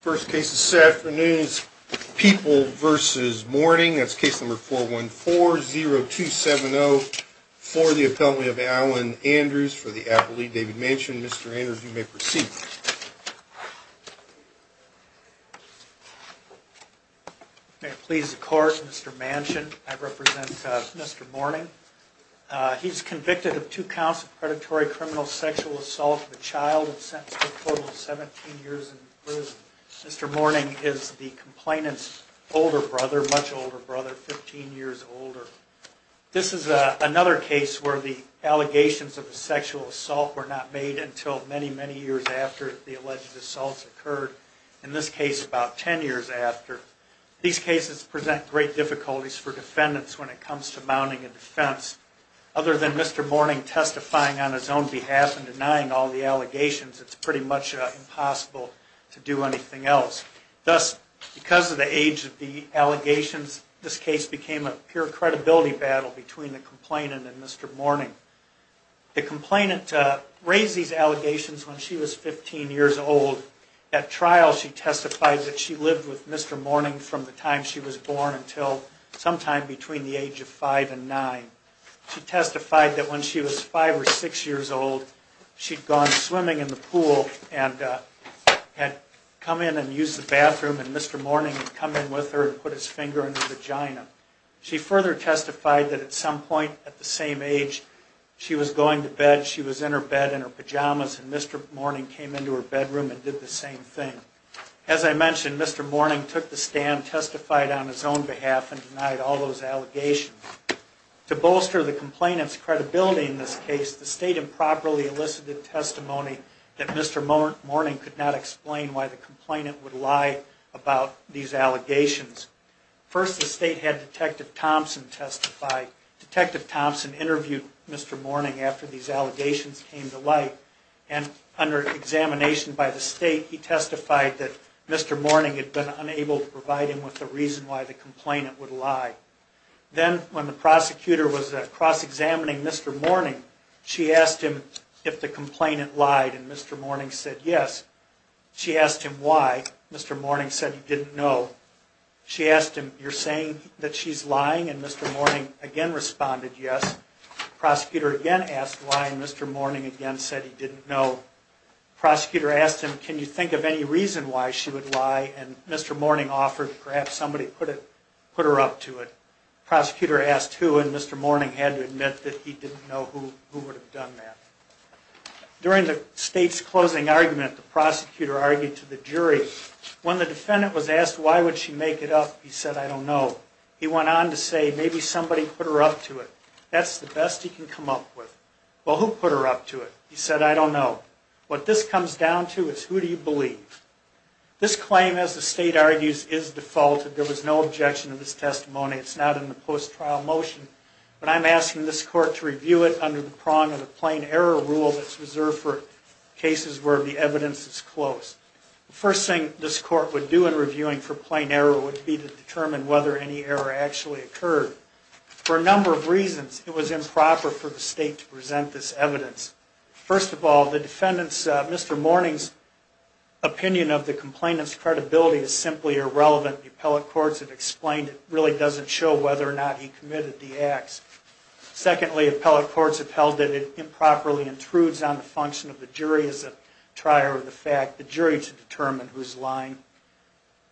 First case this afternoon is People v. Mourning. That's case number 414-0270 for the appellate of Alan Andrews for the appellate David Manchin. Mr. Andrews, you may proceed. May it please the court, Mr. Manchin. I represent Mr. Mourning. He's convicted of two counts of predatory criminal sexual assault of a child and sentenced to a total of 17 years in prison. Mr. Mourning is the complainant's older brother, much older brother, 15 years older. This is another case where the allegations of a sexual assault were not made until many, many years after the alleged assaults occurred, in this case about 10 years after. These cases present great difficulties for defendants when it comes to mounting a defense. Other than Mr. Mourning testifying on his own behalf and denying all the allegations, it's pretty much impossible to do anything else. Thus, because of the age of the allegations, this case became a pure credibility battle between the complainant and Mr. Mourning. The complainant raised these allegations when she was 15 years old. At trial she testified that she lived with Mr. Mourning from the time she was born until sometime between the age of 5 and 9. She testified that when she was 5 or 6 years old, she'd gone swimming in the pool and had come in and used the bathroom and Mr. Mourning had come in with her and put his finger in her vagina. She further testified that at some point at the same age she was going to bed, she was in her bed in her pajamas and Mr. Mourning came into her bedroom and did the same thing. As I mentioned, Mr. Mourning took the stand, testified on his own behalf and denied all those allegations. To bolster the complainant's credibility in this case, the State improperly elicited testimony that Mr. Mourning could not explain why the complainant would lie about these allegations. First, the State had Detective Thompson testify. Detective Thompson interviewed Mr. Mourning after these allegations came to light and under examination by the State, he testified that Mr. Mourning had been unable to provide him with a reason why the complainant would lie. Then, when the prosecutor was cross-examining Mr. Mourning, she asked him if the complainant lied and Mr. Mourning said yes. She asked him why, Mr. Mourning said he didn't know. She asked him, you're saying that she's lying and Mr. Mourning again responded yes. The prosecutor again asked why and Mr. Mourning again said he didn't know. The prosecutor asked him, can you think of any reason why she would lie and Mr. Mourning offered perhaps somebody put her up to it. The prosecutor asked who and Mr. Mourning had to admit that he didn't know who would have done that. During the State's closing argument, the prosecutor argued to the jury. When the defendant was asked why would she make it up, he said I don't know. He went on to say maybe somebody put her up to it. That's the best he can come up with. Well, who put her up to it? He said I don't know. What this comes down to is who do you believe? This claim, as the State argues, is defaulted. There was no objection to this testimony. It's not in the post-trial motion, but I'm asking this court to review it under the prong of the plain error rule that's reserved for cases where the evidence is close. The first thing this court would do in reviewing for plain error would be to determine whether any error actually occurred. For a number of reasons, it was improper for the State to present this evidence. First of all, the defendant's, Mr. Mourning's opinion of the complainant's credibility is simply irrelevant. The appellate courts have explained it really doesn't show whether or not he committed the acts. Secondly, appellate courts have held that it improperly intrudes on the function of the jury as a trier of the fact, the jury to determine who's lying.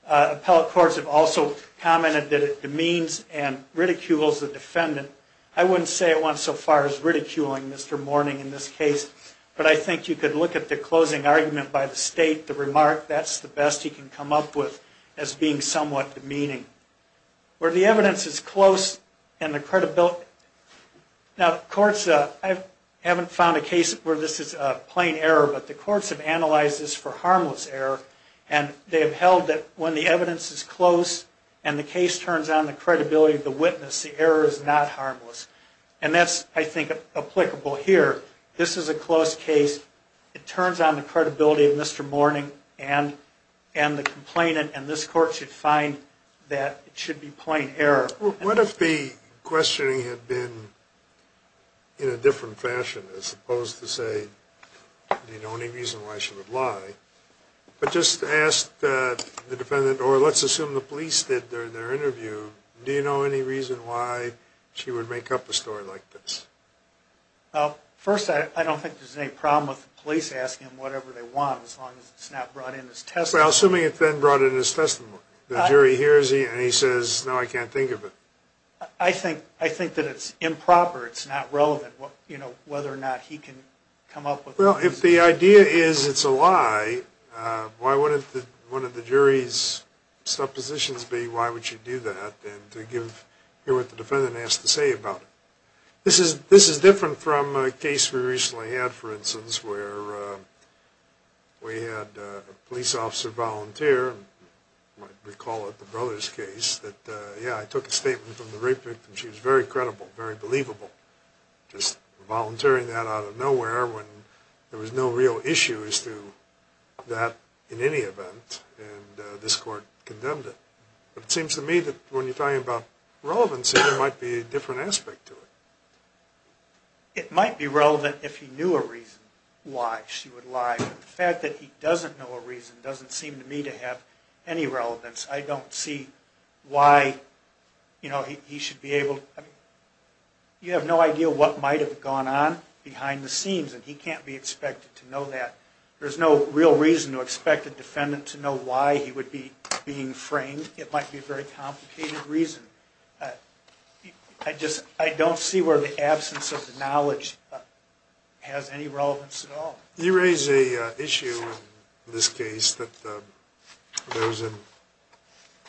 Appellate courts have also commented that it demeans and ridicules the defendant. I wouldn't say it went so far as ridiculing Mr. Mourning in this case, but I think you could look at the closing argument by the State, the remark, that's the best he can come up with, as being somewhat demeaning. Where the evidence is close and the credibility, now courts, I haven't found a case where this is a plain error, but the courts have analyzed this for harmless error, and they have held that when the evidence is close and the case turns on the credibility of the witness, the error is not harmless. And that's, I think, applicable here. This is a close case, it turns on the credibility of Mr. Mourning and the complainant, and this court should find that. What if the questioning had been in a different fashion, as opposed to say, do you know any reason why she would lie? But just ask the defendant, or let's assume the police did their interview, do you know any reason why she would make up a story like this? Well, first, I don't think there's any problem with the police asking him whatever they want, as long as it's not brought in as testimony. Well, assuming it's then brought in as testimony. The jury hears it and he says, no, I can't think of it. I think that it's improper, it's not relevant, whether or not he can come up with a reason. This is different from a case we recently had, for instance, where we had a police officer volunteer. You might recall it, the Brothers case, that, yeah, I took a statement from the rape victim, she was very credible, very believable. Just volunteering that out of nowhere when there was no real issue as to that in any event, and this court condemned it. But it seems to me that when you're talking about relevancy, there might be a different aspect to it. It might be relevant if he knew a reason why she would lie, but the fact that he doesn't know a reason doesn't seem to me to have any relevance. I don't see why, you know, he should be able to, I mean, you have no idea what might have gone on behind the scenes, and he can't be expected to know that. There's no real reason to expect a defendant to know why he would be being framed. It might be a very complicated reason. I just, I don't see where the absence of the knowledge has any relevance at all. You raise an issue in this case that there was an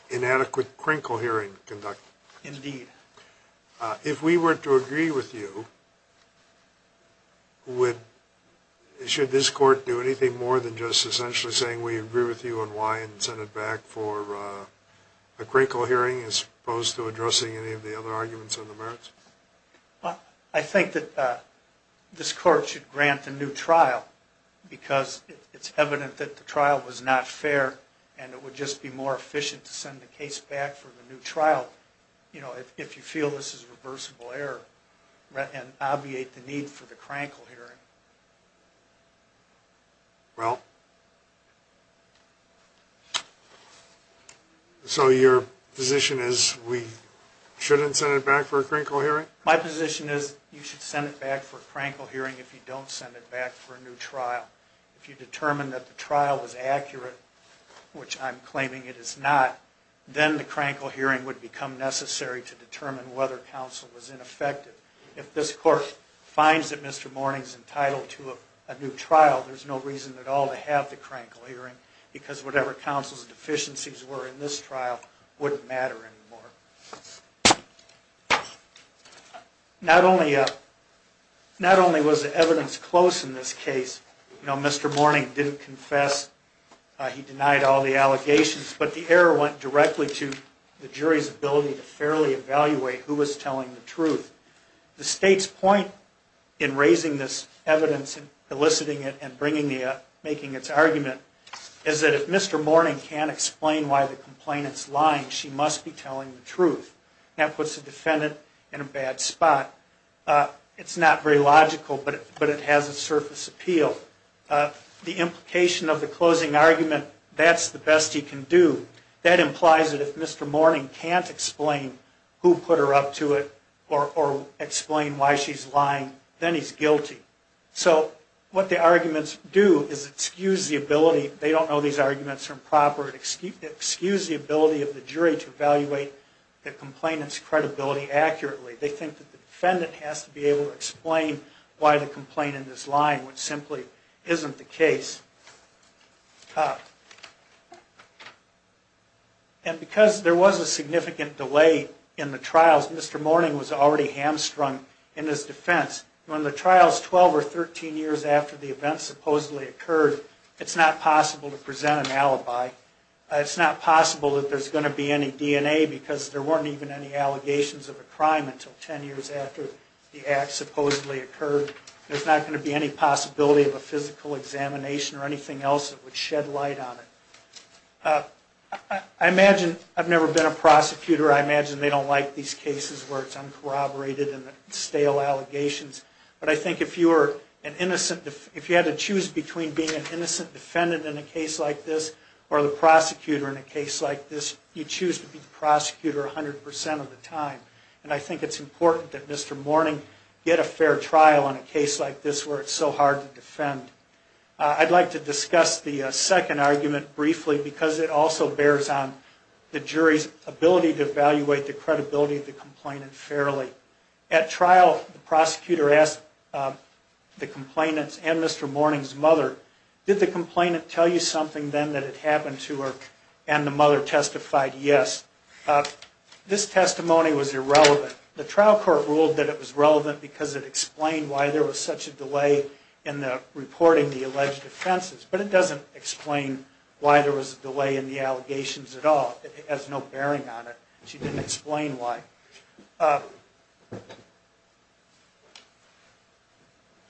inadequate crinkle hearing conducted. Indeed. If we were to agree with you, would, should this court do anything more than just essentially saying, we agree with you on why and send it back for a crinkle hearing as opposed to addressing any of the other arguments on the merits? I think that this court should grant a new trial, because it's evident that the trial was not fair, and it would just be more efficient to send the case back for the new trial, you know, if you feel this is a reversible error, and obviate the need for the crinkle hearing. Well, so your position is we shouldn't send it back for a crinkle hearing? My position is you should send it back for a crinkle hearing if you don't send it back for a new trial. If you determine that the trial was accurate, which I'm claiming it is not, then the crinkle hearing would become necessary to determine whether counsel was ineffective. If this court finds that Mr. Mourning's entitled to a new trial, there's no reason at all to have the crinkle hearing, because whatever counsel's deficiencies were in this trial wouldn't matter anymore. Not only was the evidence close in this case, you know, Mr. Mourning didn't confess, he denied all the allegations, but the error went directly to the jury's ability to fairly evaluate who was telling the truth. The State's point in raising this evidence and eliciting it and making its argument is that if Mr. Mourning can't explain why the complainant's lying, she must be telling the truth. That puts the defendant in a bad spot. It's not very logical, but it has a surface appeal. The implication of the closing argument, that's the best he can do. That implies that if Mr. Mourning can't explain who put her up to it or explain why she's lying, then he's guilty. So what the arguments do is excuse the ability, they don't know these arguments are improper, excuse the ability of the jury to evaluate the complainant's credibility accurately. They think that the defendant has to be able to explain why the complainant is lying, which simply isn't the case. And because there was a significant delay in the trials, Mr. Mourning was already hamstrung in his defense. When the trial is 12 or 13 years after the event supposedly occurred, it's not possible to present an alibi. It's not possible that there's going to be any DNA because there weren't even any allegations of a crime until 10 years after the act supposedly occurred. There's not going to be any possibility of a physical examination or anything else that would shed light on it. I imagine, I've never been a prosecutor, I imagine they don't like these cases where it's uncorroborated and stale allegations. But I think if you had to choose between being an innocent defendant in a case like this or the prosecutor in a case like this, you choose to be the prosecutor 100% of the time. And I think it's important that Mr. Mourning get a fair trial in a case like this where it's so hard to defend. I'd like to discuss the second argument briefly because it also bears on the jury's ability to evaluate the credibility of the complainant fairly. At trial, the prosecutor asked the complainant and Mr. Mourning's mother, did the complainant tell you something then that had happened to her? And the mother testified yes. This testimony was irrelevant. The trial court ruled that it was relevant because it explained why there was such a delay in the reporting the alleged offenses. But it doesn't explain why there was a delay in the allegations at all. It has no bearing on it. She didn't explain why.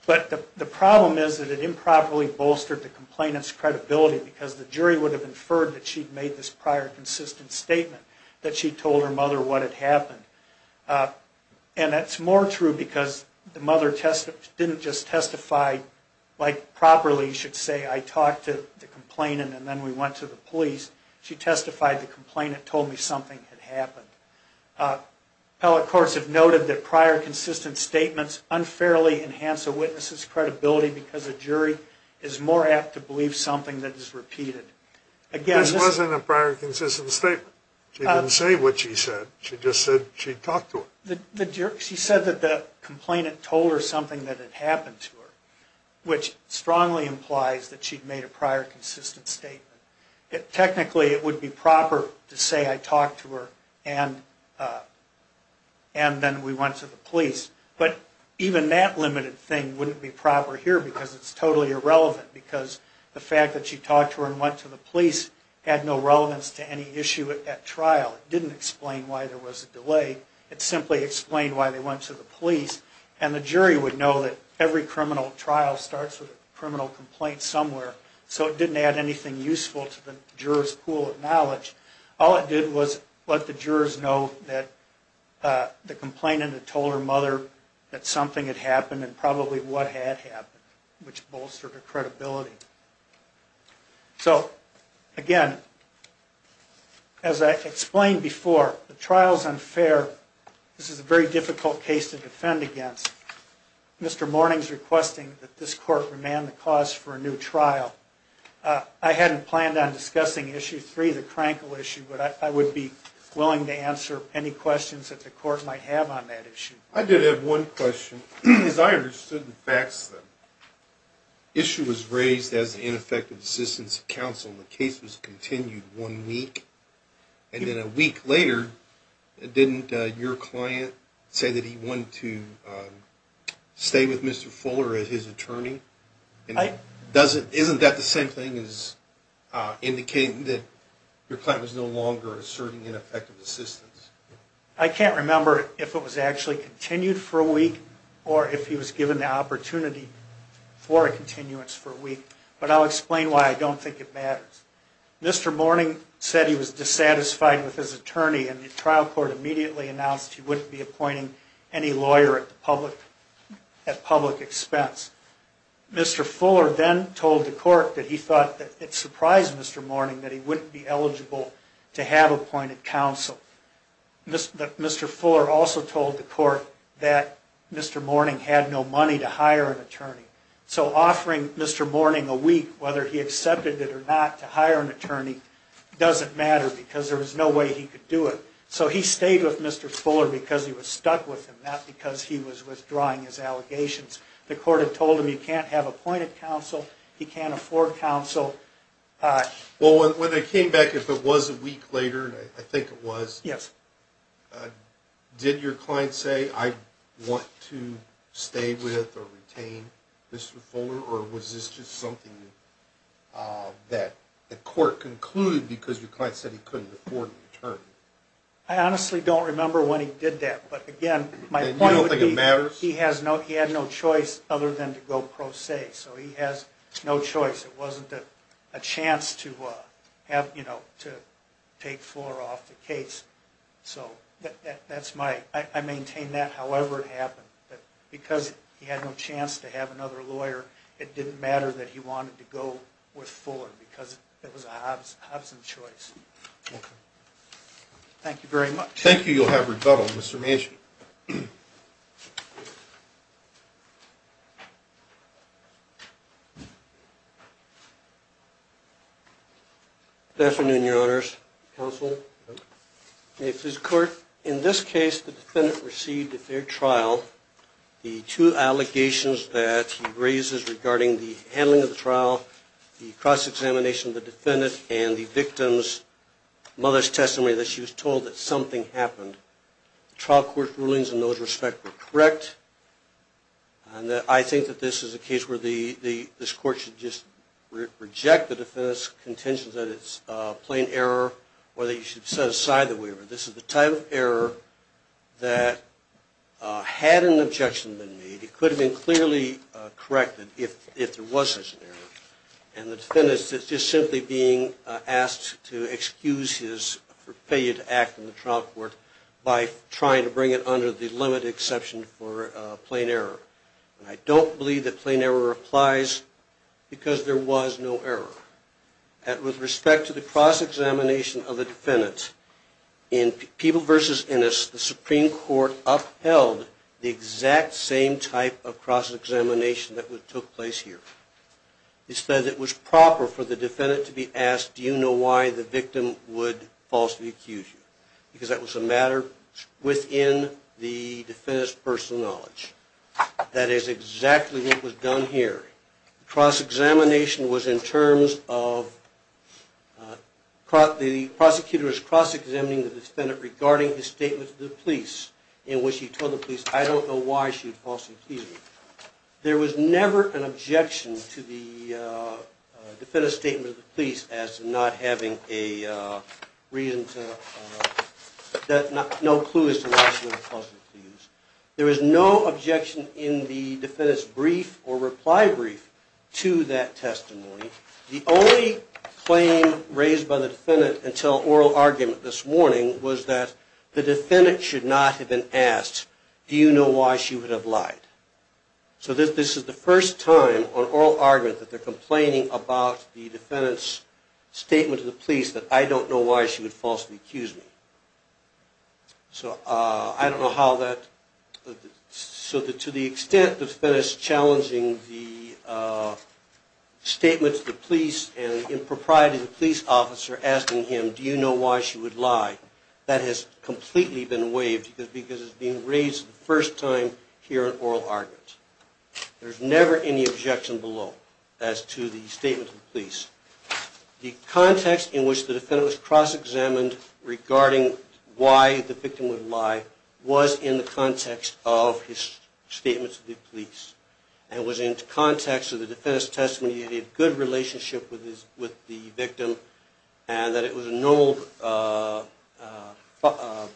But the problem is that it improperly bolstered the complainant's credibility because the jury would have inferred that she'd made this prior consistent statement that she told her mother what had happened. And that's more true because the mother didn't just testify like properly, you should say, I talked to the complainant and then we went to the police. She testified the complainant told me something had happened. Appellate courts have noted that prior consistent statements unfairly enhance a witness's credibility because a jury is more apt to believe something that is repeated. This wasn't a prior consistent statement. She didn't say what she said. She just said she talked to her. She said that the complainant told her something that had happened to her, which strongly implies that she'd made a prior consistent statement. Technically, it would be proper to say I talked to her and then we went to the police. But even that limited thing wouldn't be proper here because it's totally irrelevant because the fact that she talked to her and went to the police had no relevance to any issue at that trial. It didn't explain why there was a delay. It simply explained why they went to the police. And the jury would know that every criminal trial starts with a criminal complaint somewhere, so it didn't add anything useful to the juror's pool of knowledge. All it did was let the jurors know that the complainant had told her mother that something had happened and probably what had happened, which bolstered her credibility. So, again, as I explained before, the trial is unfair. This is a very difficult case to defend against. Mr. Mourning is requesting that this court remand the cause for a new trial. I hadn't planned on discussing Issue 3, the Krankel issue, but I would be willing to answer any questions that the court might have on that issue. I did have one question. As I understood the facts, the issue was raised as ineffective assistance of counsel. The case was continued one week, and then a week later, didn't your client say that he wanted to stay with Mr. Fuller as his attorney? Isn't that the same thing as indicating that your client was no longer asserting ineffective assistance? I can't remember if it was actually continued for a week or if he was given the opportunity for a continuance for a week, but I'll explain why I don't think it matters. Mr. Mourning said he was dissatisfied with his attorney, and the trial court immediately announced he wouldn't be appointing any lawyer at public expense. Mr. Fuller then told the court that he thought it surprised Mr. Mourning that he wouldn't be eligible to have appointed counsel. Mr. Fuller also told the court that Mr. Mourning had no money to hire an attorney. So offering Mr. Mourning a week, whether he accepted it or not, doesn't matter because there was no way he could do it. So he stayed with Mr. Fuller because he was stuck with him, not because he was withdrawing his allegations. The court had told him he can't have appointed counsel, he can't afford counsel. When they came back, if it was a week later, I think it was, did your client say, I want to stay with or retain Mr. Fuller, or was this just something that the court concluded because your client said he couldn't afford an attorney? I honestly don't remember when he did that. And you don't think it matters? He had no choice other than to go pro se, so he has no choice. It wasn't a chance to take Fuller off the case. I maintain that however it happened. Because he had no chance to have another lawyer, it didn't matter that he wanted to go with Fuller because it was a Hobson choice. Okay. Thank you very much. Thank you. You'll have rebuttal. Mr. Manchin. Good afternoon, Your Honors. Counsel. In this case, the defendant received at their trial the two allegations that he raises regarding the handling of the trial, the cross-examination of the defendant and the victim's mother's testimony that she was told that something happened. Trial court rulings in those respects were correct. I think that this is a case where this court should just reject the defendant's plain error or that you should set aside the waiver. This is the type of error that had an objection been made. It could have been clearly corrected if there was such an error. And the defendant is just simply being asked to excuse his forfeited act in the trial court by trying to bring it under the limit exception for plain error. And I don't believe that plain error applies because there was no error. With respect to the cross-examination of the defendant, in People v. Innis, the Supreme Court upheld the exact same type of cross-examination that took place here. It said that it was proper for the defendant to be asked, do you know why the victim would falsely accuse you? Because that was a matter within the defendant's personal knowledge. That is exactly what was done here. The cross-examination was in terms of the prosecutor is cross-examining the defendant regarding his statement to the police in which he told the police, I don't know why she falsely accused me. There was never an objection to the defendant's statement to the police as to not having a reason to, no clue as to why she would falsely accuse. There was no objection in the defendant's brief or reply brief to that testimony. The only claim raised by the defendant until oral argument this morning was that the defendant should not have been asked, do you know why she would have lied? So this is the first time on oral argument that they're complaining about the defendant's statement to the police that I don't know why she would falsely accuse me. So I don't know how that, so to the extent the defendant is challenging the statement to the police and impropriety of the police officer asking him, do you know why she would lie, that has completely been waived because it's being raised for the first time here on oral argument. There's never any objection below as to the statement to the police. The context in which the defendant was cross-examined regarding why the victim would lie was in the context of his statement to the police. And it was in context of the defendant's testimony that he had a good relationship with the victim and that it was a normal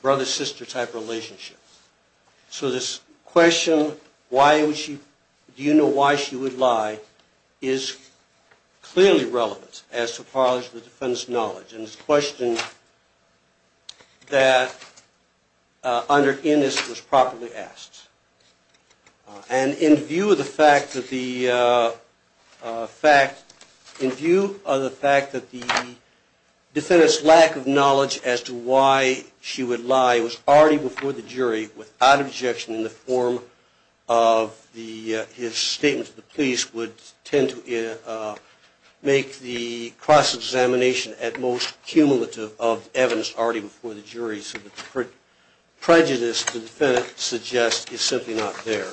brother-sister type relationship. So this question, why would she, do you know why she would lie, is clearly relevant as to part of the defendant's knowledge. And it's a question that under Innis was properly asked. And in view of the fact that the defendant's lack of knowledge as to why she would lie was already before the jury without objection in the form of his statement to the police would tend to make the cross-examination at most cumulative of evidence already before the jury. So the prejudice the defendant suggests is simply not there.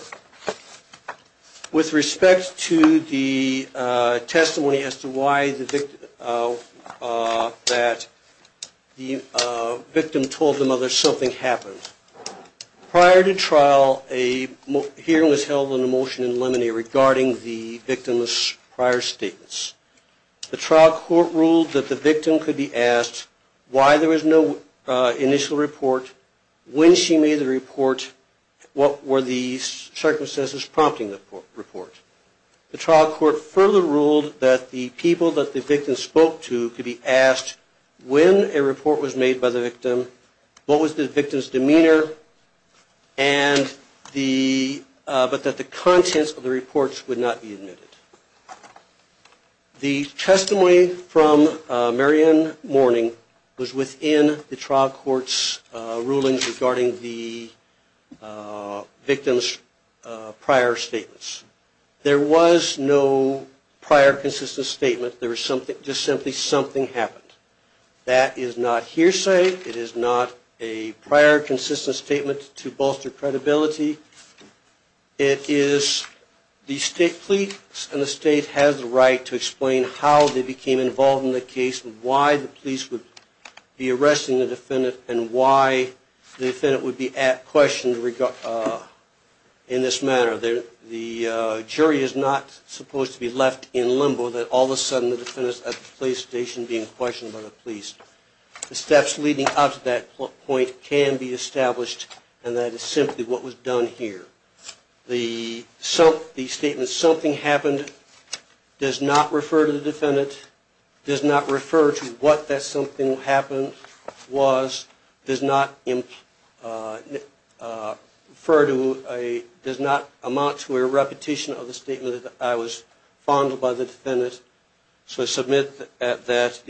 With respect to the testimony as to why the victim told the mother something happened, prior to trial a hearing was held on the motion in limine regarding the victim's prior statements. The trial court ruled that the victim could be asked why there was no initial report, when she made the report, what were the circumstances prompting the report. The trial court further ruled that the people that the victim spoke to could be asked when a report was made by the victim, what was the victim's demeanor, but that the contents of the reports would not be admitted. The testimony from Marianne Mourning was within the trial court's rulings regarding the victim's prior statements. There was no prior consistent statement. There was just simply something happened. That is not hearsay. It is not a prior consistent statement to bolster credibility. It is the state police and the state has the right to explain how they became involved in the case and why the police would be arresting the defendant and why the defendant would be at question in this matter. The jury is not supposed to be left in limbo that all of a sudden the defendant was at the police station being questioned by the police. The steps leading up to that point can be established, and that is simply what was done here. The statement, something happened, does not refer to the defendant, does not refer to what that something happened was, does not amount to a repetition of the statement that I was fond of by the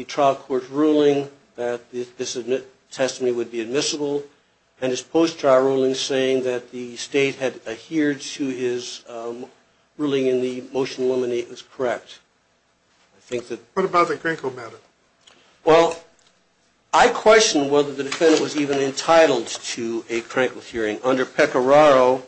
trial court's ruling that this testimony would be admissible, and his post-trial ruling saying that the state had adhered to his ruling in the motion to eliminate was correct. What about the Krenkel matter? Well, I question whether the defendant was even entitled to a Krenkel hearing. Under Pecoraro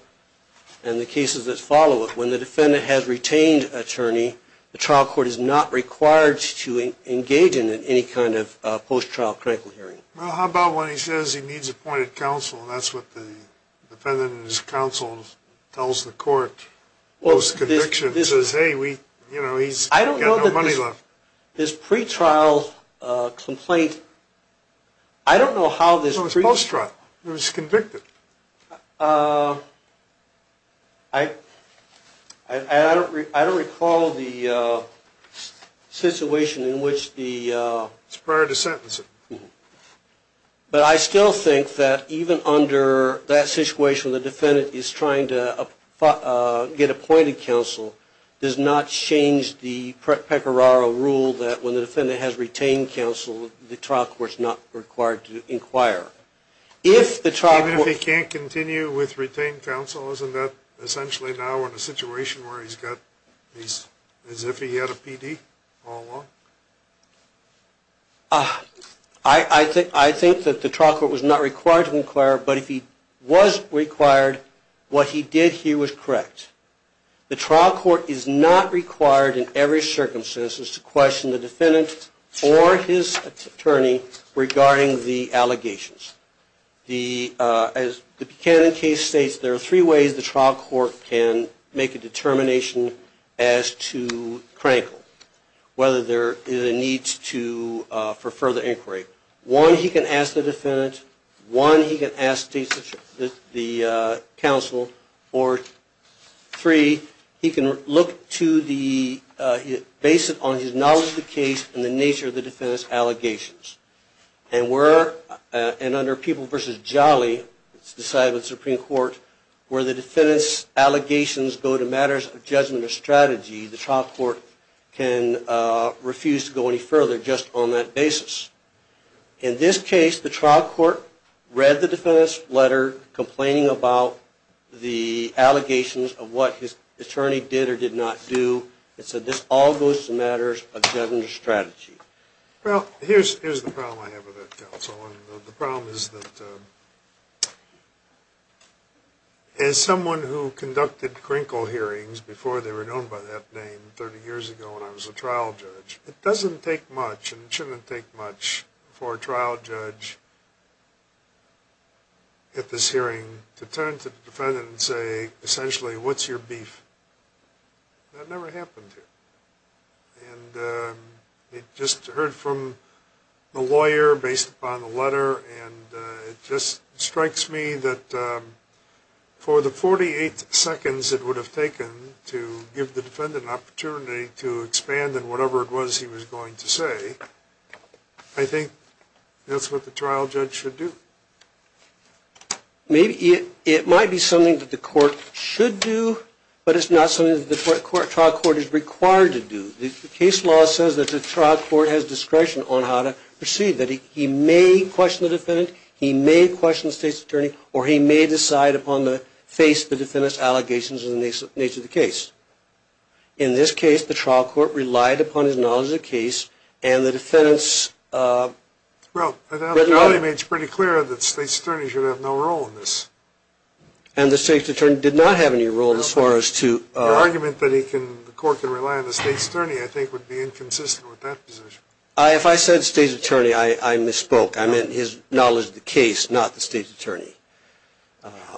and the cases that follow it, when the defendant has retained attorney, the trial court is not required to engage in any kind of post-trial Krenkel hearing. Well, how about when he says he needs appointed counsel, and that's what the defendant and his counsel tells the court post-conviction, says, hey, he's got no money left. This pretrial complaint, I don't know how this pre- It was post-trial. It was convicted. I don't recall the situation in which the It's prior to sentencing. But I still think that even under that situation, the defendant is trying to get appointed counsel, does not change the Pecoraro rule that when the defendant has retained counsel, the trial court's not required to inquire. Even if he can't continue with retained counsel, isn't that essentially now in a situation where he's got, as if he had a PD all along? I think that the trial court was not required to inquire, but if he was required, what he did here was correct. The trial court is not required in every circumstance to question the defendant or his attorney regarding the allegations. As the Buchanan case states, there are three ways the trial court can make a determination as to Crankle, whether there is a need for further inquiry. One, he can ask the defendant. One, he can ask the counsel. Three, he can look to the basis on his knowledge of the case and the nature of the defendant's allegations. And under People v. Jolly, it's decided by the Supreme Court, where the defendant's allegations go to matters of judgment or strategy, the trial court can refuse to go any further just on that basis. In this case, the trial court read the defendant's letter complaining about the allegations of what his attorney did or did not do. It said this all goes to matters of judgment or strategy. Well, here's the problem I have with that, counsel. The problem is that as someone who conducted Crankle hearings before they were known by that name 30 years ago when I was a trial judge, it doesn't take much, and it shouldn't take much, for a trial judge at this hearing to turn to the defendant and say, essentially, what's your beef? That never happened here. And I just heard from the lawyer based upon the letter, and it just strikes me that for the 48 seconds it would have taken to give the defendant an opportunity to expand in whatever it was he was going to say, I think that's what the trial judge should do. It might be something that the court should do, but it's not something that the trial court is required to do. The case law says that the trial court has discretion on how to proceed, that he may question the defendant, he may question the state's attorney, or he may decide upon the face of the defendant's allegations in the nature of the case. In this case, the trial court relied upon his knowledge of the case, and the defendant's... Well, I thought he made it pretty clear that the state's attorney should have no role in this. And the state's attorney did not have any role as far as to... Your argument that the court can rely on the state's attorney, I think, would be inconsistent with that position. If I said state's attorney, I misspoke. I meant his knowledge of the case, not the state's attorney.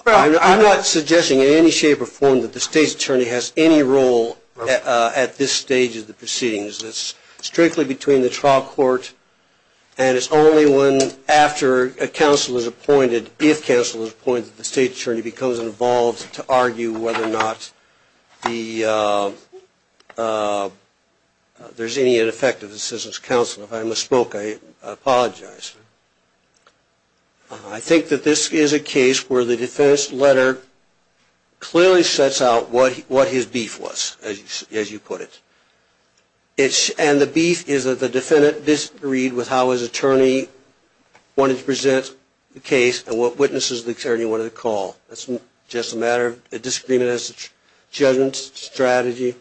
I'm not suggesting in any shape or form that the state's attorney has any role at this stage of the proceedings. It's strictly between the trial court, and it's only when, after counsel is appointed, if counsel is appointed, that the state's attorney becomes involved to argue whether or not the... There's any ineffective assistance counsel. If I misspoke, I apologize. I think that this is a case where the defendant's letter clearly sets out what his beef was, as you put it. And the beef is that the defendant disagreed with how his attorney wanted to present the case and what witnesses the attorney wanted to call. That's just a matter of a disagreement as a judgment strategy,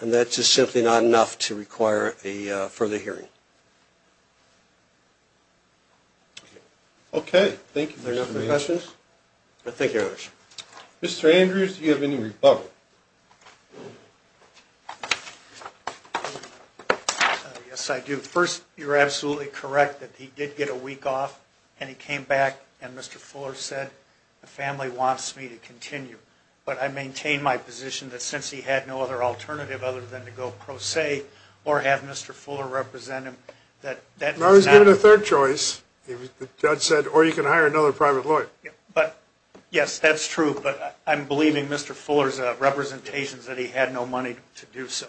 and that's just simply not enough to require a further hearing. Okay. Thank you. Are there no further questions? Thank you very much. Mr. Andrews, do you have any rebuttal? Yes, I do. First, you're absolutely correct that he did get a week off, and he came back, and Mr. Fuller said, the family wants me to continue. But I maintain my position that since he had no other alternative other than to go pro se or have Mr. Fuller represent him, that... No, he's given a third choice. The judge said, or you can hire another private lawyer. Yes, that's true, but I'm believing Mr. Fuller's representations that he had no money to do so.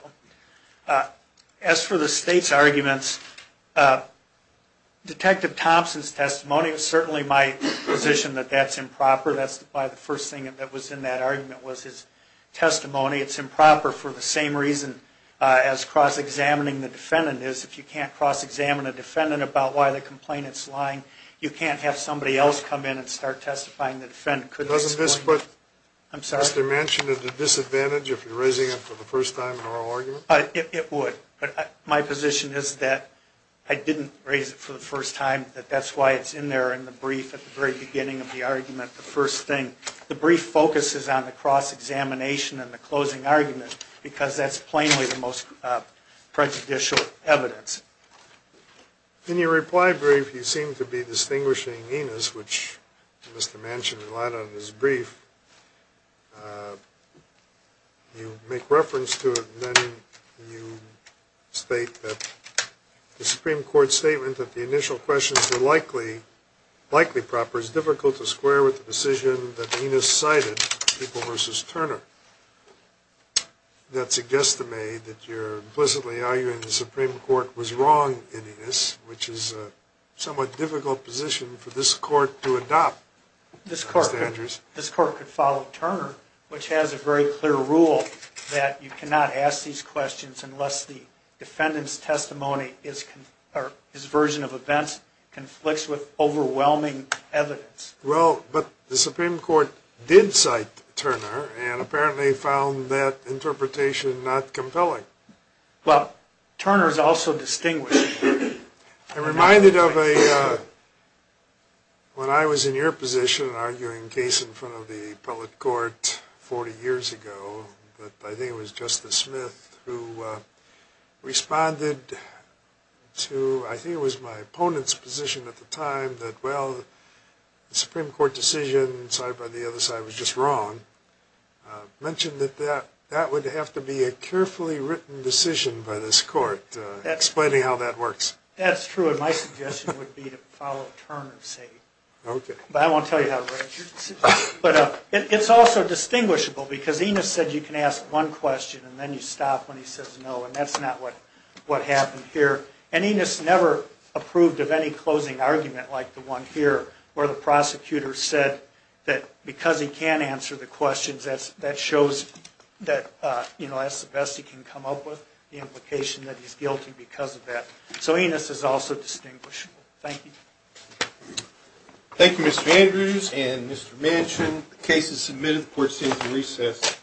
As for the state's arguments, Detective Thompson's testimony is certainly my position that that's improper. That's why the first thing that was in that argument was his testimony. It's improper for the same reason as cross-examining the defendant is. If you can't cross-examine a defendant about why the complainant's lying, you can't have somebody else come in and start testifying. Doesn't this put Mr. Manchin at a disadvantage if you're raising him for the first time in an oral argument? It would. But my position is that I didn't raise it for the first time, that that's why it's in there in the brief at the very beginning of the argument, the first thing. The brief focuses on the cross-examination and the closing argument because that's plainly the most prejudicial evidence. In your reply brief, you seem to be distinguishing Enos, which Mr. Manchin relied on in his brief. You make reference to it, and then you state that the Supreme Court's statement that the initial questions were likely proper is difficult to square with the decision that Enos cited, People v. Turner. That suggests to me that you're implicitly arguing the Supreme Court was wrong in Enos, which is a somewhat difficult position for this Court to adopt. This Court could follow Turner, which has a very clear rule that you cannot ask these questions unless the defendant's testimony or his version of events conflicts with overwhelming evidence. Well, but the Supreme Court did cite Turner and apparently found that interpretation not compelling. Well, Turner's also distinguishing. I'm reminded of when I was in your position arguing a case in front of the Appellate Court 40 years ago. I think it was Justice Smith who responded to, I think it was my opponent's position at the time, that, well, the Supreme Court decision cited by the other side was just wrong. You mentioned that that would have to be a carefully written decision by this Court, explaining how that works. That's true, and my suggestion would be to follow Turner's statement. But I won't tell you how to write your decision. But it's also distinguishable, because Enos said you can ask one question, and then you stop when he says no, and that's not what happened here. And Enos never approved of any closing argument like the one here, where the prosecutor said that because he can't answer the questions, that shows that, you know, that's the best he can come up with, the implication that he's guilty because of that. So Enos is also distinguishable. Thank you. Thank you, Mr. Andrews and Mr. Manchin. The case is submitted. The Court stands at recess.